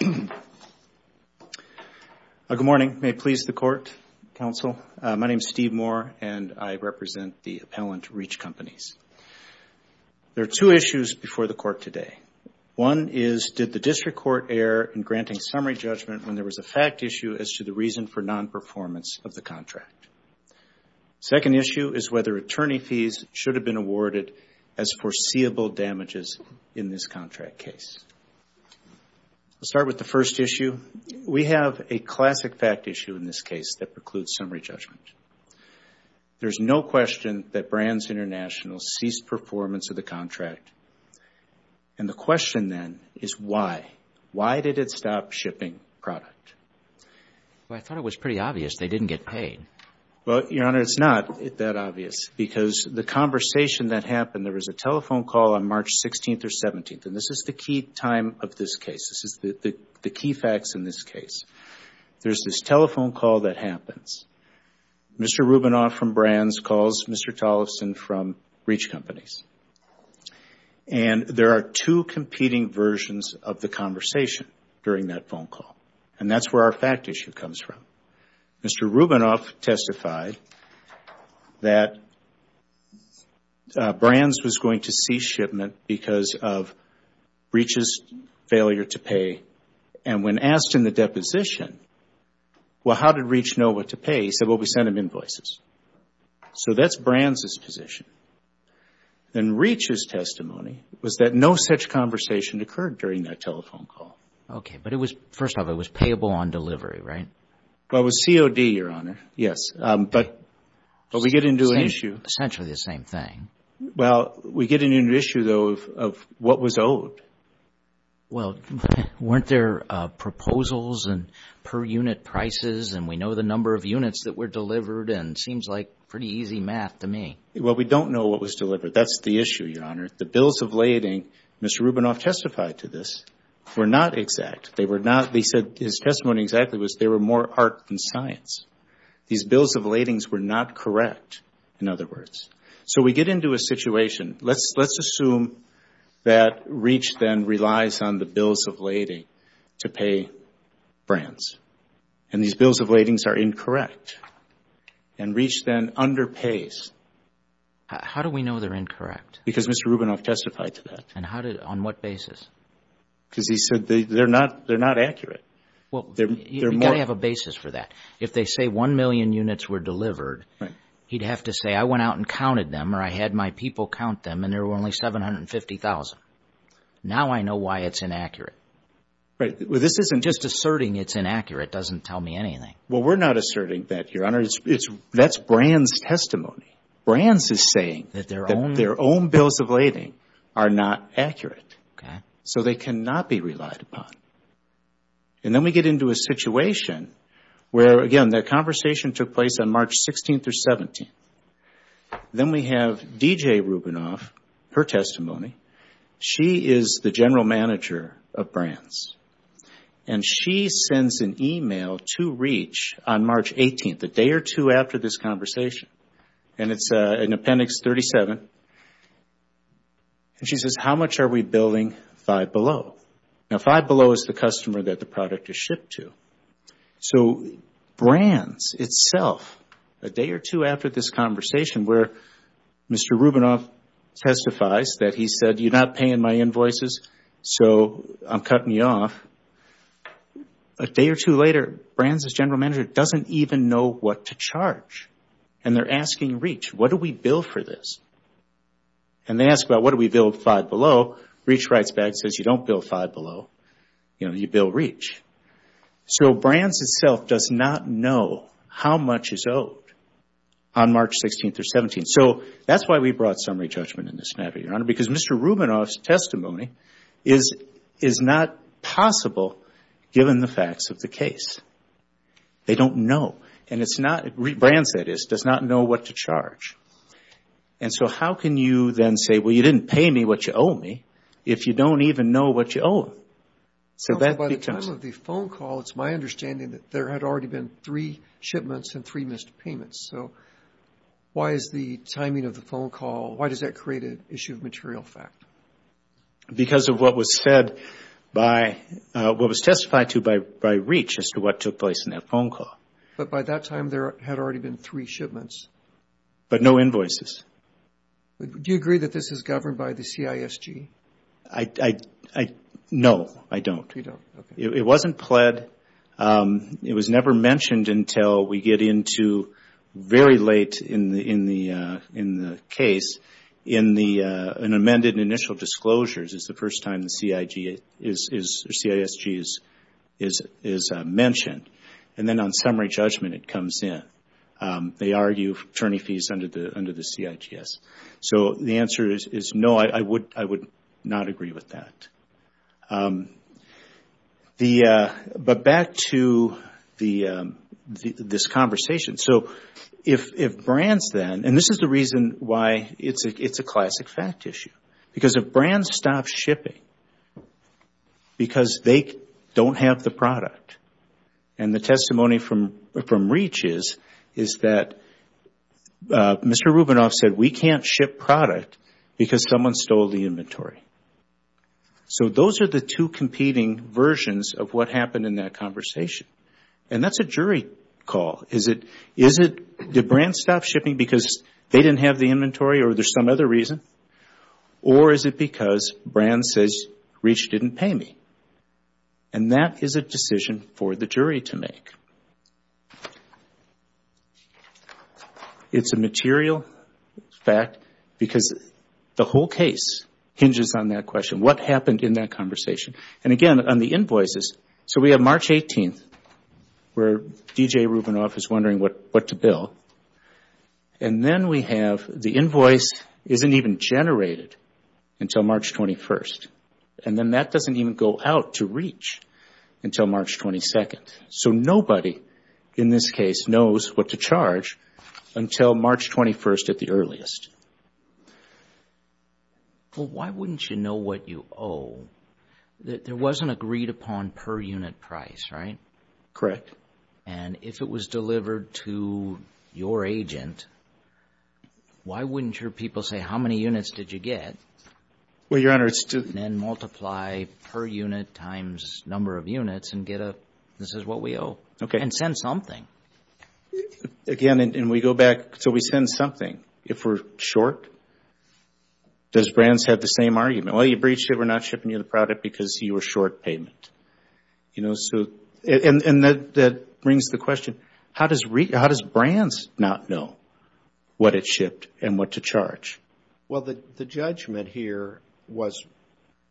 Good morning. May it please the Court, Counsel. My name is Steve Moore, and I represent the appellant, Reach Companies. There are two issues before the Court today. One is, did the District Court err in granting summary judgment when there was a fact issue as to the reason for non-performance of the contract? The second issue is whether attorney fees should have been awarded as foreseeable damages in this contract case. Let's start with the first issue. We have a classic fact issue in this case that precludes summary judgment. There is no question that Brands International ceased performance of the contract, and the question then is why. Why did it stop shipping product? Well, I thought it was pretty obvious they didn't get paid. Well, Your Honor, it's not that obvious because the conversation that happened, there was a telephone call on March 16th or 17th, and this is the key time of this case. This is the key facts in this case. There's this telephone call that happens. Mr. Rubinoff from Brands calls Mr. Tollefson from Reach Companies, and there are two competing versions of the conversation during that phone call, and that's where our fact issue comes from. Mr. Rubinoff testified that Brands was going to cease shipment because of Reach's failure to pay, and when asked in the deposition, well, how did Reach know what to pay? He said, well, we sent him invoices. So that's Brands' position. Then Reach's testimony was that no such conversation occurred during that telephone call. Okay, but it was, first off, it was payable on delivery, right? Well, it was COD, Your Honor, yes, but we get into an issue. Essentially the same thing. Well, we get into an issue, though, of what was owed. Well, weren't there proposals and per unit prices, and we know the number of units that were delivered, and it seems like pretty easy math to me. Well, we don't know what was delivered. That's the issue, Your Honor. The bills of lading, Mr. Rubinoff testified to this, were not exact. They were not, he said, his testimony exactly was they were more art than science. These bills of ladings were not correct, in other words. So we get into a situation, let's assume that Reach then relies on the bills of lading to pay Brands, and these bills of ladings are incorrect, and Reach then underpays. How do we know they're incorrect? Because Mr. Rubinoff testified to that. And how did, on what basis? Because he said they're not accurate. Well, you've got to have a basis for that. If they say one million units were delivered, he'd have to say, I went out and counted them, or I had my people count them, and there were only 750,000. Now I know why it's inaccurate. Right. Well, this isn't Just asserting it's inaccurate doesn't tell me anything. Well, we're not asserting that, Your Honor. That's Brands' testimony. Brands is saying that their own bills of lading are not accurate. Okay. So they cannot be relied upon. And then we get into a situation where, again, that conversation took place on March 16th or 17th. Then we have D.J. Rubinoff, her testimony. She is the general manager of Brands, and she sends an email to Reach on March 18th, a day or two after this conversation, and it's in Appendix 37. And she says, how much are we billing 5 Below? Now, 5 Below is the customer that the product is shipped to. So Brands itself, a day or two after this conversation where Mr. Rubinoff testifies that he said, you're not paying my invoices, so I'm cutting you off, a day or two later, Brands' general manager doesn't even know what to charge. And they're asking Reach, what do we bill for this? And they ask about what do we bill 5 Below? Reach writes back and says, you don't bill 5 Below, you bill Reach. So Brands itself does not know how much is owed on March 16th or 17th. So that's why we brought summary judgment in this scenario, Your Honor, because Mr. Rubinoff's testimony is not possible given the facts of the case. They don't know. And so how can you then say, well, you didn't pay me what you owe me, if you don't even know what you owe him? So by the time of the phone call, it's my understanding that there had already been three shipments and three missed payments. So why is the timing of the phone call, why does that create an issue of material fact? Because of what was said by, what was testified to by Reach as to what took place in that phone call. But by that time, there had already been three shipments. But no invoices. Do you agree that this is governed by the CISG? No, I don't. It wasn't pled. It was never mentioned until we get into very late in the case, in the amended initial disclosures is the first time the CISG is mentioned. And then on summary judgment, it comes in. They argue attorney fees under the CISG. So the answer is no, I would not agree with that. But back to this conversation. So if brands then, and this is the reason why it's a classic fact issue. Because if brands stop shipping because they don't have the product, and the testimony from Reach is that Mr. Rubinoff said, we can't ship product because someone stole the inventory. So those are the two competing versions of what happened in that conversation. And that's a jury call. Is it, did brands stop shipping because they didn't have the product, or is it because brands says Reach didn't pay me? And that is a decision for the jury to make. It's a material fact because the whole case hinges on that question. What happened in that conversation? And again, on the invoices, so we have March 18th, where DJ Rubinoff is wondering what to bill. And then we have the invoice isn't even generated until March 21st. And then that doesn't even go out to Reach until March 22nd. So nobody in this case knows what to charge until March 21st at the earliest. Well, why wouldn't you know what you owe? There wasn't agreed upon per unit price, right? Correct. And if it was delivered to your agent, why wouldn't your people say, how many units did you get? Well, Your Honor, it's to... And then multiply per unit times number of units and get a, this is what we owe. Okay. And send something. Again, and we go back, so we send something. If we're short, does brands have the same argument? Well, you breached it, we're not shipping you the product because you were And that brings the question, how does brands not know what it shipped and what to charge? Well, the judgment here was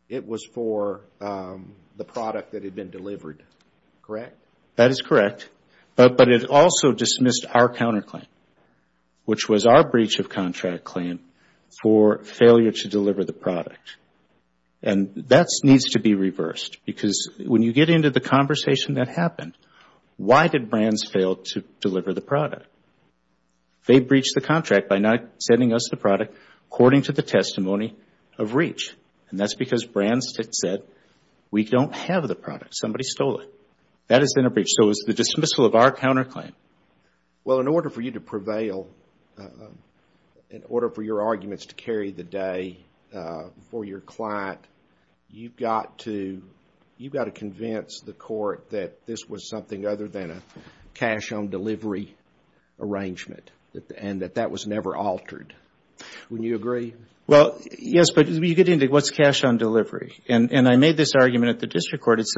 it was for the product that had been delivered, correct? That is correct. But it also dismissed our counterclaim, which was our breach of contract claim for failure to deliver the product. And that needs to be reversed because when you get into the conversation that happened, why did brands fail to deliver the product? They breached the contract by not sending us the product according to the testimony of reach. And that's because brands said, we don't have the product, somebody stole it. That has been a breach. So, it was the dismissal of our counterclaim. Well, in order for you to prevail, in order for your arguments to carry the day for your client, you've got to convince the court that this was something other than a cash on delivery arrangement and that that was never altered. Would you agree? Well, yes, but you get into what's cash on delivery? And I made this argument at the district court. It's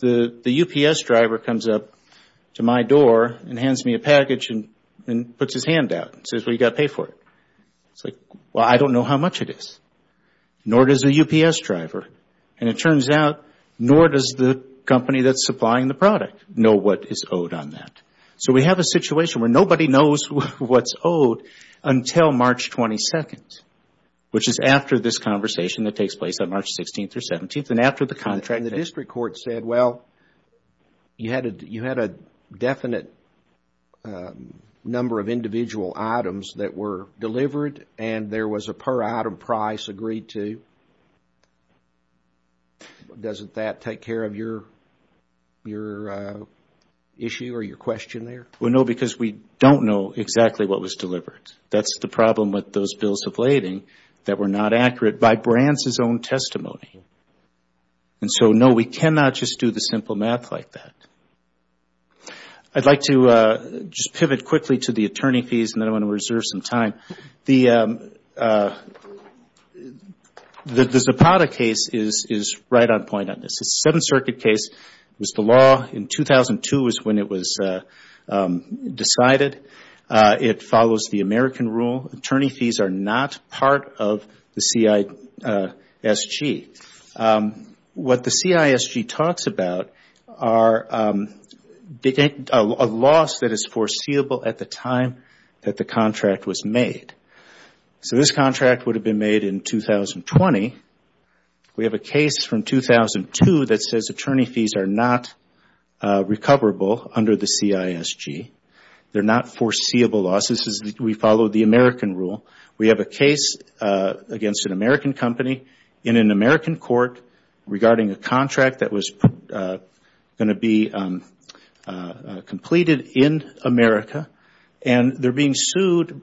the UPS driver comes up to my door and hands me a package and puts his hand out and says, well, you've got to pay for it. It's like, well, I don't know how much it is, nor does the UPS driver. And it turns out, nor does the company that's supplying the product know what is owed on that. So, we have a situation where nobody knows what's owed until March 22nd, which is after this conversation that takes place on March 16th or 17th and after the contract. And the district court said, well, you had a definite number of individual items that were delivered and there was a per item price agreed to. Doesn't that take care of your issue or your question there? Well, no, because we don't know exactly what was delivered. That's the problem with those bills of lading that were not accurate by Brandt's own testimony. And so, no, we cannot just do the simple math like that. I'd like to just pivot quickly to the attorney fees and then I want to reserve some time. The Zapata case is right on point on this. It's a Seventh Circuit case. It was the law in 2002 is when it was decided. It follows the American rule. Attorney fees are not part of the CISG. What the CISG talks about are a loss that is foreseeable at the time that the contract was made. So, this contract would have been made in 2020. We have a case from 2002 that says attorney fees are not recoverable under the CISG. They are not foreseeable losses. We follow the American rule. We have a case against an American company in an American court regarding a contract that was going to be completed in America and they are being sued,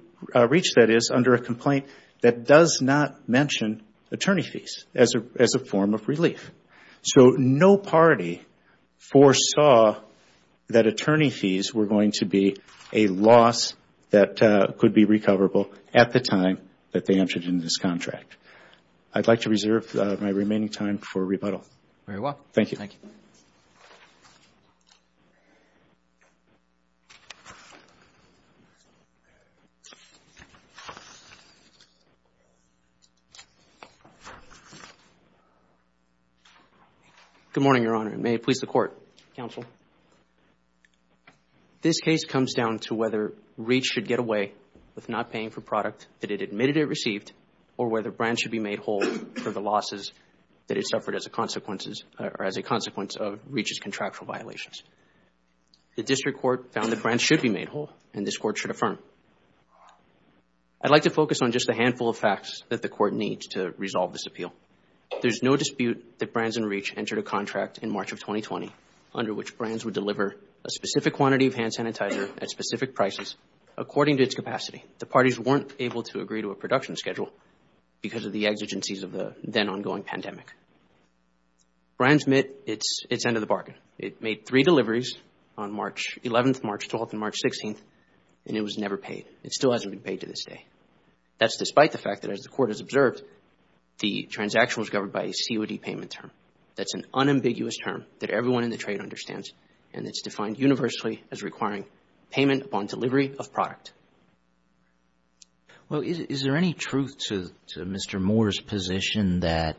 reached that is, under a complaint that does not mention attorney fees as a form of recoverable at the time that they entered into this contract. I'd like to reserve my remaining time for rebuttal. Very well. Thank you. Thank you. Good morning, Your Honor. May it please the Court. Counsel. This case comes down to whether REACH should get away with not paying for product that it admitted it received or whether brands should be made whole for the losses that it suffered as a consequence of REACH's contractual violations. The District Court found that brands should be made whole and this Court should affirm. I'd like to focus on just a handful of facts that the Court needs to resolve this appeal. There's no dispute that brands would deliver a specific quantity of hand sanitizer at specific prices according to its capacity. The parties weren't able to agree to a production schedule because of the exigencies of the then ongoing pandemic. Brands met its end of the bargain. It made three deliveries on March 11th, March 12th, and March 16th and it was never paid. It still hasn't been paid to this day. That's despite the fact that as the Court has observed, the transaction was governed by a COD payment term. That's an unambiguous term that everyone in the trade understands and it's defined universally as requiring payment upon delivery of product. Well, is there any truth to Mr. Moore's position that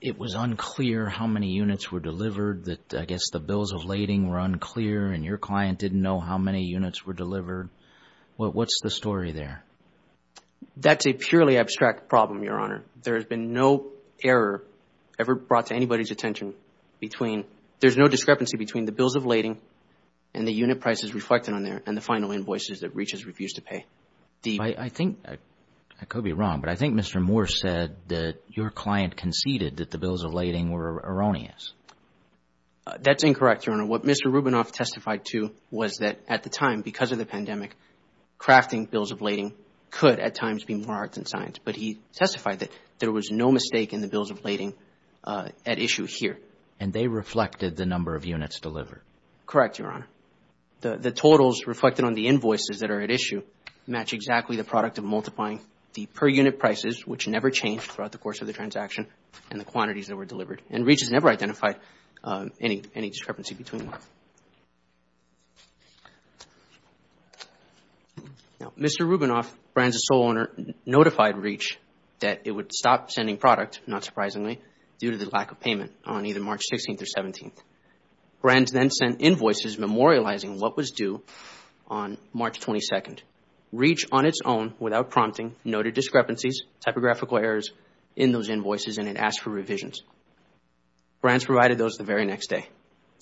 it was unclear how many units were delivered, that I guess the bills of lading were unclear and your client didn't know how many units were delivered? What's the story there? That's a purely abstract problem, Your Honor. There has been no error ever brought to anybody's attention. I mean, there's no discrepancy between the bills of lading and the unit prices reflected on there and the final invoices that REACH has refused to pay. I think, I could be wrong, but I think Mr. Moore said that your client conceded that the bills of lading were erroneous. That's incorrect, Your Honor. What Mr. Rubinoff testified to was that at the time, because of the pandemic, crafting bills of lading could at times be more hard than science, but he testified that there was no mistake in the bills of lading at issue here. And they reflected the number of units delivered. Correct, Your Honor. The totals reflected on the invoices that are at issue match exactly the product of multiplying the per unit prices, which never changed throughout the course of the transaction, and the quantities that were delivered. And REACH has never identified any discrepancy between them. Now, Mr. Rubinoff, Brands' sole owner, notified REACH that it would stop sending product, not surprisingly, due to the lack of payment on either March 16th or 17th. Brands then sent invoices memorializing what was due on March 22nd. REACH, on its own, without prompting, noted discrepancies, typographical errors in those invoices and it asked for revisions. Brands provided those the very next day.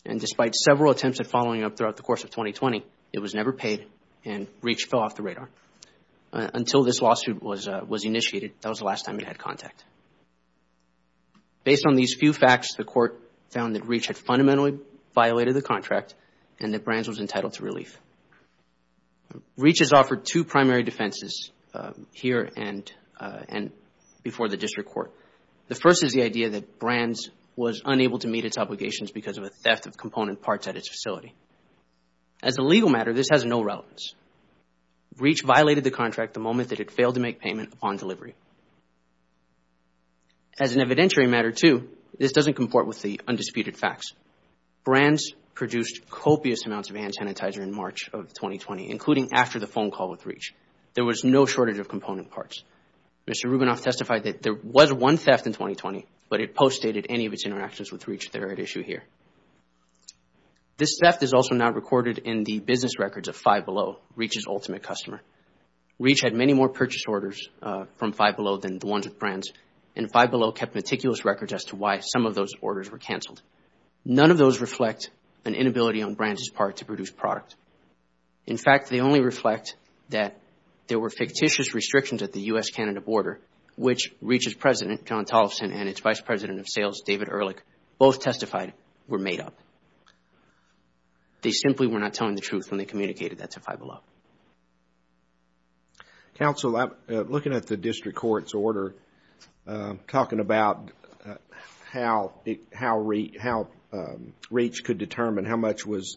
And despite several attempts at following up throughout the course of 2020, it was never paid and REACH fell off the radar. Until this lawsuit was initiated, that was the last time it had contact. Based on these few facts, the Court found that REACH had fundamentally violated the contract and that Brands was entitled to relief. REACH has offered two primary defenses here and before the District Court. The first is the idea that Brands was unable to meet its obligations because of a theft of component parts at its facility. As a legal matter, this has no relevance. REACH violated the contract the moment it had failed to make payment upon delivery. As an evidentiary matter, too, this doesn't comport with the undisputed facts. Brands produced copious amounts of hand sanitizer in March of 2020, including after the phone call with REACH. There was no shortage of component parts. Mr. Rubinoff testified that there was one theft in 2020, but it postdated any of its interactions with REACH that are at issue here. This theft is also not recorded in the business records of 5 Below, REACH's ultimate customer. REACH had many more purchase orders from 5 Below than the ones with Brands, and 5 Below kept meticulous records as to why some of those orders were canceled. None of those reflect an inability on Brands' part to produce product. In fact, they only reflect that there were fictitious restrictions at the U.S.-Canada border, which REACH's president, John Tollefson, and its vice president of sales, David Ehrlich, both testified were made up. They simply were not telling the truth when they communicated that to 5 Below. Counsel, looking at the district court's order, talking about how REACH could determine how much was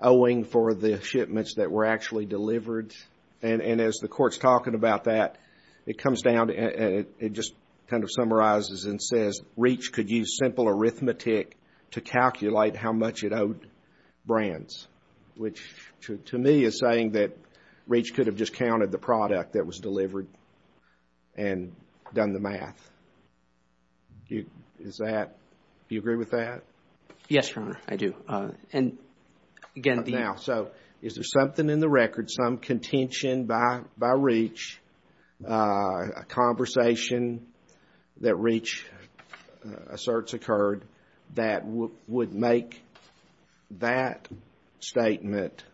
owing for the shipments that were actually delivered, and as the court's talking about that, it comes down and it just kind of summarizes and says REACH could use simple arithmetic to calculate how much it owed Brands, which to me is saying that REACH could have just counted the product that was delivered and done the math. Do you agree with that? Yes, Your Honor, I do. Now, so is there something in the record, some contention by REACH, a conversation that REACH asserts occurred that would make that statement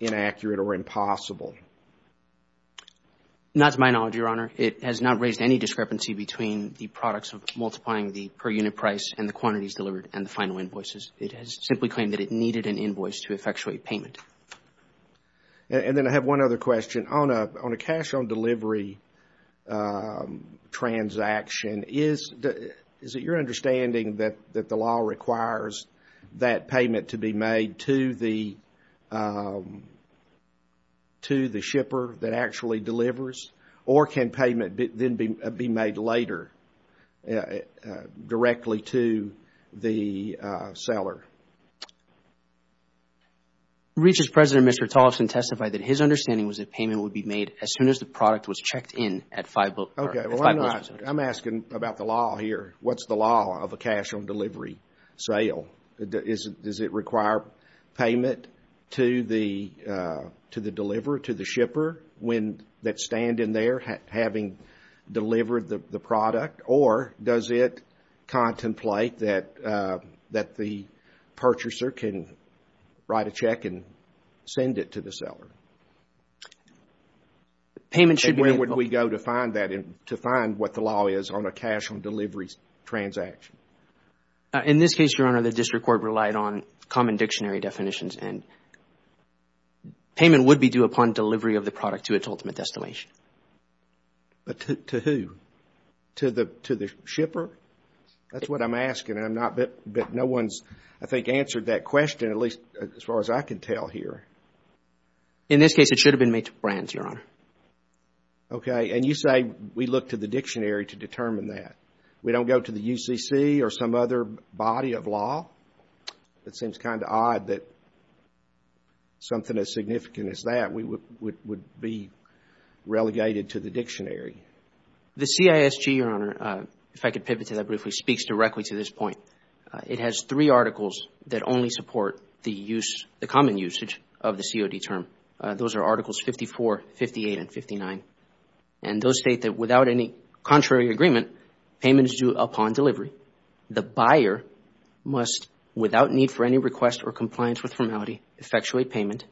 inaccurate or impossible? Not to my knowledge, Your Honor. It has not raised any discrepancy between the products of multiplying the per unit price and the quantities delivered and the final invoices. It has simply claimed that it needed an invoice to effectuate payment. And then I have one other question. On a cash on delivery transaction, is it your understanding that the law requires that payment to be made to the shipper that actually delivers? Or can payment then be made later, directly to the seller? REACH's President, Mr. Tollefson, testified that his understanding was that payment would be made as soon as the product was checked in at five months. Okay, well, I'm asking about the law here. What's the law of a cash on delivery sale? Does it require payment to the deliverer, to the shipper that stand in there having delivered the product? Or does it contemplate that the purchaser can write a check and send it to the seller? Payment should be made. And where would we go to find that, to find what the law is on a cash on delivery transaction? In this case, Your Honor, the district court relied on common dictionary definitions. And payment would be due upon delivery of the product to its ultimate destination. But to who? To the shipper? That's what I'm asking. But no one's, I think, answered that question, at least as far as I can tell here. In this case, it should have been made to Brands, Your Honor. Okay. And you say we look to the dictionary to determine that. We don't go to the UCC or some other body of law? It seems kind of odd that something as significant as that would be relegated to the dictionary. The CISG, Your Honor, if I could pivot to that briefly, speaks directly to this point. It has three articles that only support the use, the common usage of the COD term. Those are articles 54, 58, and 59. And those state that without any contrary agreement, payment is due upon delivery. The buyer must, without need for any request or compliance with formality, effectuate payment.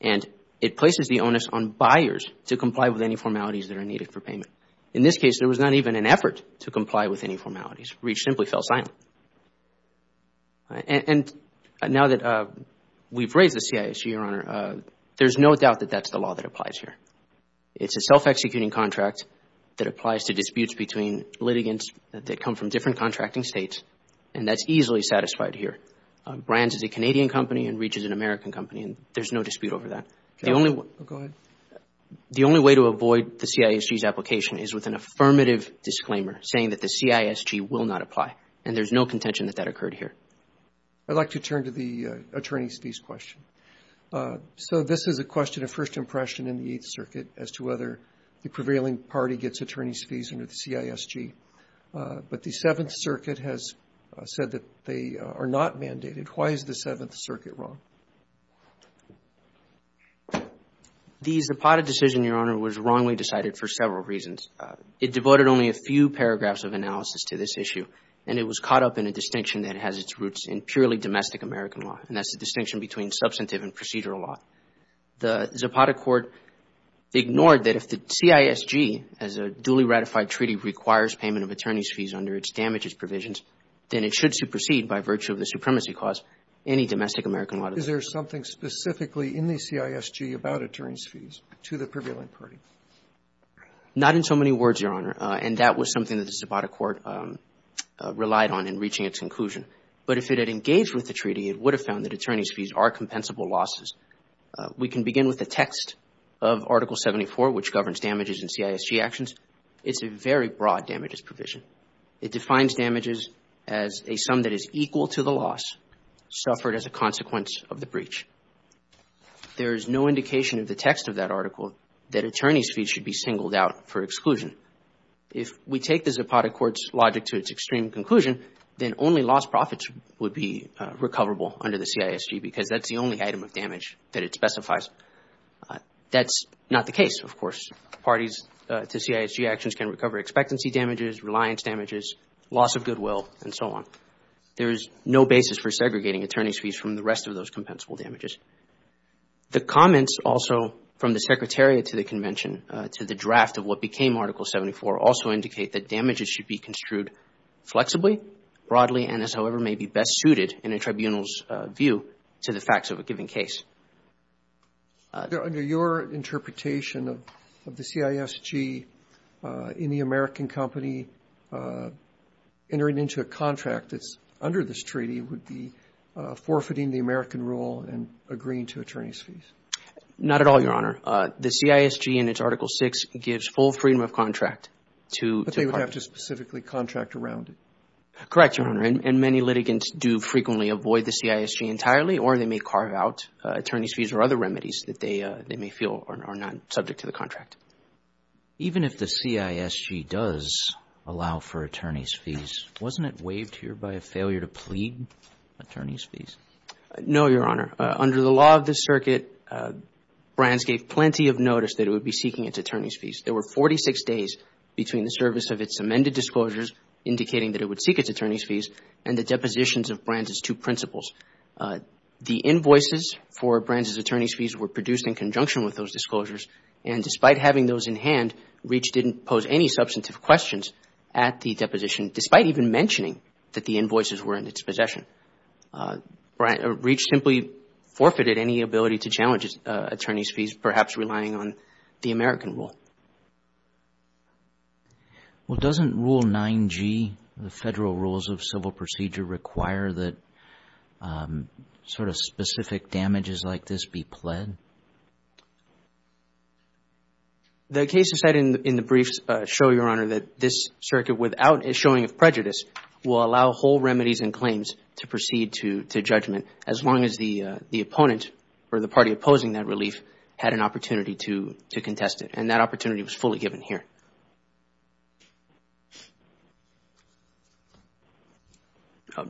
And it places the onus on buyers to comply with any formalities that are needed for payment. In this case, there was not even an effort to comply with any formalities. Reach simply fell silent. And now that we've raised the CISG, Your Honor, there's no doubt that that's the law that applies here. It's a self-executing contract that applies to disputes between litigants that come from different contracting states. And that's easily satisfied here. Brands is a Canadian company and Reach is an American company, and there's no dispute over that. Go ahead. The only way to avoid the CISG's application is with an affirmative disclaimer saying that the CISG will not apply. And there's no contention that that occurred here. I'd like to turn to the attorney's fees question. So this is a question of first impression in the Eighth Circuit as to whether the prevailing party gets attorney's fees under the CISG. But the Seventh Circuit has said that they are not mandated. Why is the Seventh Circuit wrong? The Zapata decision, Your Honor, was wrongly decided for several reasons. It devoted only a few paragraphs of analysis to this issue. And it was caught up in a distinction that has its roots in purely domestic American law. And that's the distinction between substantive and procedural law. The Zapata court ignored that if the CISG, as a duly ratified treaty, requires payment of attorney's fees under its damages provisions, then it should supersede, by virtue of the supremacy clause, any domestic American law. Is there something specifically in the CISG about attorney's fees to the prevailing party? Not in so many words, Your Honor. And that was something that the Zapata court relied on in reaching its conclusion. But if it had engaged with the treaty, it would have found that attorney's fees are compensable losses. We can begin with the text of Article 74, which governs damages in CISG actions. It's a very broad damages provision. It defines damages as a sum that is equal to the loss suffered as a consequence of the breach. There is no indication in the text of that article that attorney's fees should be singled out for exclusion. If we take the Zapata court's logic to its extreme conclusion, then only lost profits would be recoverable under the CISG, because that's the only item of damage that it specifies. That's not the case, of course. Parties to CISG actions can recover expectancy damages, reliance damages, loss of goodwill, and so on. There is no basis for segregating attorney's fees from the rest of those compensable damages. The comments also from the secretariat to the convention, to the draft of what became Article 74, also indicate that damages should be construed flexibly, broadly, and as however may be best suited in a tribunal's view to the facts of a given case. Under your interpretation of the CISG, any American company entering into a contract that's under this treaty would be forfeiting the American rule and agreeing to attorney's fees? Not at all, Your Honor. The CISG in its Article 6 gives full freedom of contract to the parties. But they would have to specifically contract around it. Correct, Your Honor. And many litigants do frequently avoid the CISG entirely, or they may carve out attorney's fees or other remedies that they may feel are not subject to the contract. Even if the CISG does allow for attorney's fees, wasn't it waived here by a failure to plead attorney's fees? No, Your Honor. Under the law of this circuit, Brands gave plenty of notice that it would be seeking its attorney's fees. There were 46 days between the service of its amended disclosures indicating that it would seek its attorney's fees and the depositions of Brands' two principles. The invoices for Brands' attorney's fees were produced in conjunction with those disclosures. And despite having those in hand, Reach didn't pose any substantive questions at the deposition, despite even mentioning that the invoices were in its possession. Reach simply forfeited any ability to challenge attorney's fees, perhaps relying on the American rule. Well, doesn't Rule 9G, the Federal Rules of Civil Procedure, require that sort of specific damages like this be pled? The case is set in the briefs show, Your Honor, that this circuit, without a showing of prejudice, will allow whole remedies and claims to proceed to judgment, as long as the opponent or the party opposing that relief had an opportunity to contest it. And that opportunity was fully given here.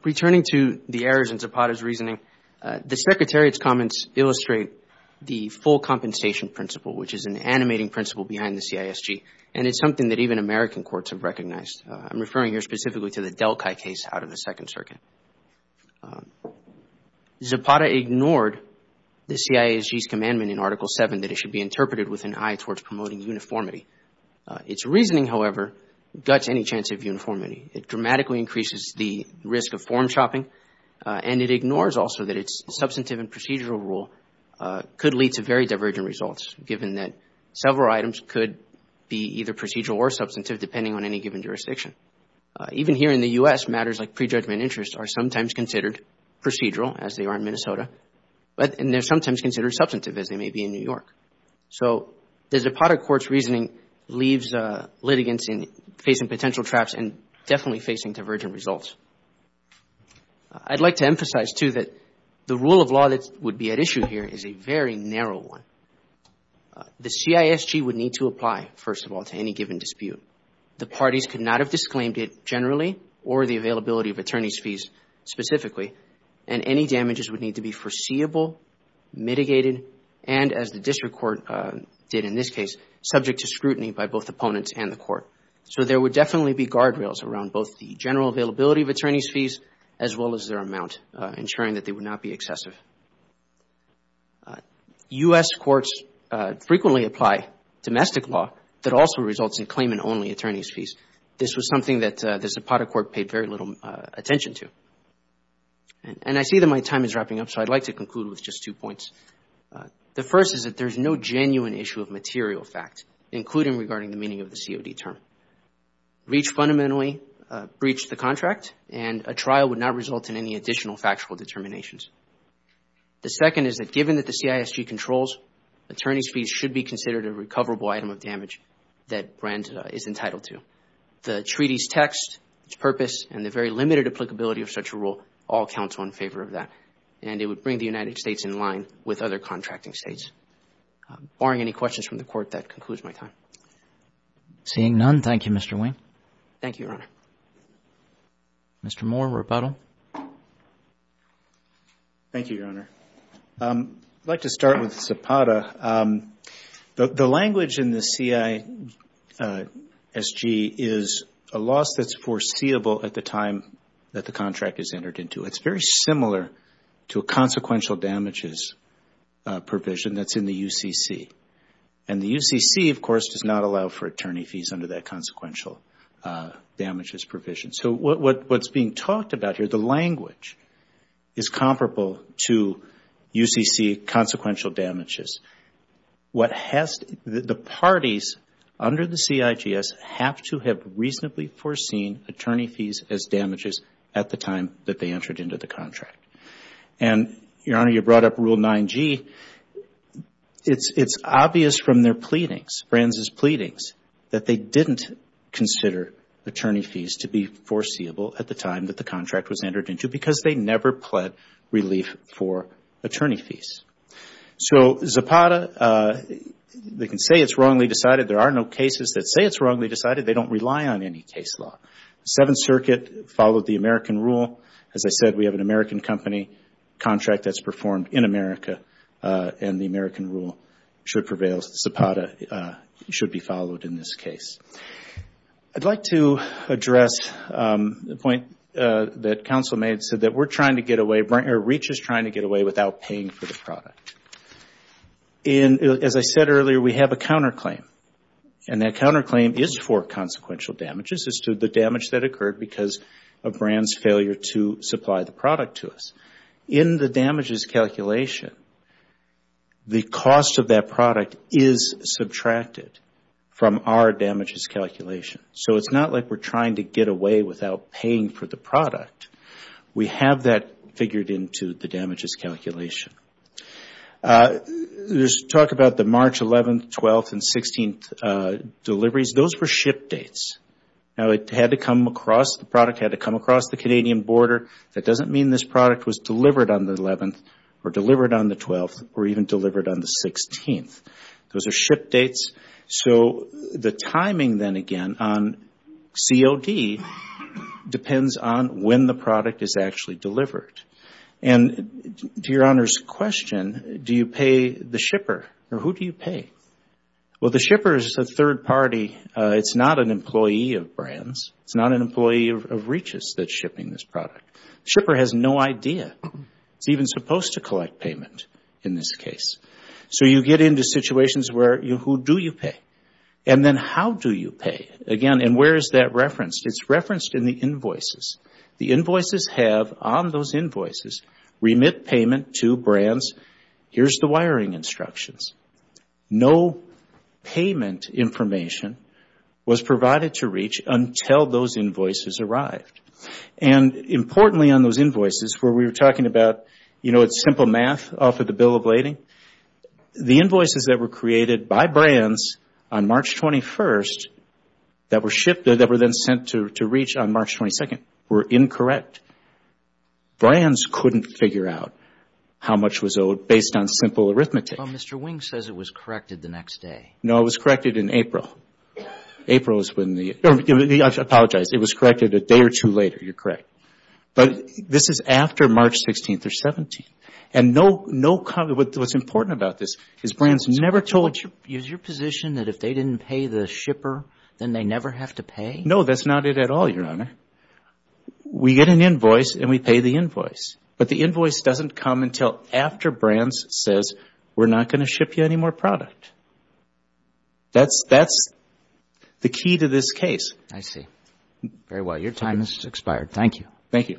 Returning to the errors in Zapata's reasoning, the Secretariat's comments illustrate the full compensation principle, which is an animating principle behind the CISG. And it's something that even American courts have recognized. I'm referring here specifically to the Delkai case out of the Second Circuit. Zapata ignored the CISG's commandment in Article 7 that it should be interpreted with an eye towards promoting uniformity. Its reasoning, however, guts any chance of uniformity. It dramatically increases the risk of form shopping, and it ignores also that its substantive and procedural rule could lead to very divergent results, given that several items could be either procedural or substantive, depending on any given jurisdiction. Even here in the U.S., matters like prejudgment interests are sometimes considered procedural, as they are in Minnesota, and they're sometimes considered substantive, as they may be in New York. So the Zapata court's reasoning leaves litigants facing potential traps and definitely facing divergent results. I'd like to emphasize, too, that the rule of law that would be at issue here is a very narrow one. The CISG would need to apply, first of all, to any given dispute. The parties could not have disclaimed it generally or the availability of attorney's fees specifically, and any damages would need to be foreseeable, mitigated, and, as the district court did in this case, subject to scrutiny by both opponents and the court. So there would definitely be guardrails around both the general availability of attorney's fees, as well as their amount, ensuring that they would not be excessive. U.S. courts frequently apply domestic law that also results in claimant-only attorney's fees. This was something that the Zapata court paid very little attention to. And I see that my time is wrapping up, so I'd like to conclude with just two points. The first is that there's no genuine issue of material fact, including regarding the meaning of the COD term. Reach fundamentally breached the contract, and a trial would not result in any additional factual determinations. It should be considered a recoverable item of damage that Brandt is entitled to. The treaty's text, its purpose, and the very limited applicability of such a rule all counts one favor of that, and it would bring the United States in line with other contracting states. Barring any questions from the court, that concludes my time. Seeing none, thank you, Mr. Wing. Thank you, Your Honor. Mr. Moore, rebuttal. Thank you, Your Honor. I'd like to start with Zapata. The language in the CISG is a loss that's foreseeable at the time that the contract is entered into. It's very similar to a consequential damages provision that's in the UCC. And the UCC, of course, does not allow for attorney fees under that consequential damages provision. So what's being talked about here, the language, is comparable to UCC consequential damages. The parties under the CIGS have to have reasonably foreseen attorney fees as damages at the time that they entered into the contract. And, Your Honor, you brought up Rule 9g. It's obvious from their pleadings, Brandt's pleadings, that they didn't consider attorney fees to be foreseeable at the time that the contract was entered into because they never pled relief for attorney fees. So Zapata, they can say it's wrongly decided. There are no cases that say it's wrongly decided. They don't rely on any case law. Seventh Circuit followed the American rule. As I said, we have an American company, contract that's performed in America, and the American rule should prevail. So Zapata should be followed in this case. I'd like to address the point that counsel made, so that we're trying to get away, or REACH is trying to get away without paying for the product. As I said earlier, we have a counterclaim, and that counterclaim is for consequential damages. It's to the damage that occurred because of Brandt's failure to supply the product to us. In the damages calculation, the cost of that product is subtracted from our damages calculation. So it's not like we're trying to get away without paying for the product. We have that figured into the damages calculation. There's talk about the March 11th, 12th, and 16th deliveries. Those were ship dates. Now, the product had to come across the Canadian border. That doesn't mean this product was delivered on the 11th or delivered on the 12th or even delivered on the 16th. Those are ship dates. So the timing then, again, on COD depends on when the product is actually delivered. And to Your Honour's question, do you pay the shipper, or who do you pay? Well, the shipper is a third party. It's not an employee of Brandt's. It's not an employee of Reach's that's shipping this product. The shipper has no idea. It's even supposed to collect payment in this case. So you get into situations where, who do you pay? And then how do you pay? Again, and where is that referenced? It's referenced in the invoices. The invoices have, on those invoices, remit payment to Brandt's. Here's the wiring instructions. No payment information was provided to Reach until those invoices arrived. And importantly on those invoices, where we were talking about, you know, it's simple math off of the bill of lading, the invoices that were created by Brandt's on March 21st that were shipped, that were then sent to Reach on March 22nd were incorrect. Brandt's couldn't figure out how much was owed based on simple arithmetic. Well, Mr. Wing says it was corrected the next day. No, it was corrected in April. April is when the, I apologize, it was corrected a day or two later. You're correct. But this is after March 16th or 17th. And what's important about this is Brandt's never told you. Is your position that if they didn't pay the shipper, then they never have to pay? No, that's not it at all, Your Honor. We get an invoice and we pay the invoice. But the invoice doesn't come until after Brandt's says, we're not going to ship you any more product. That's the key to this case. I see. Very well. Your time has expired. Thank you. Thank you.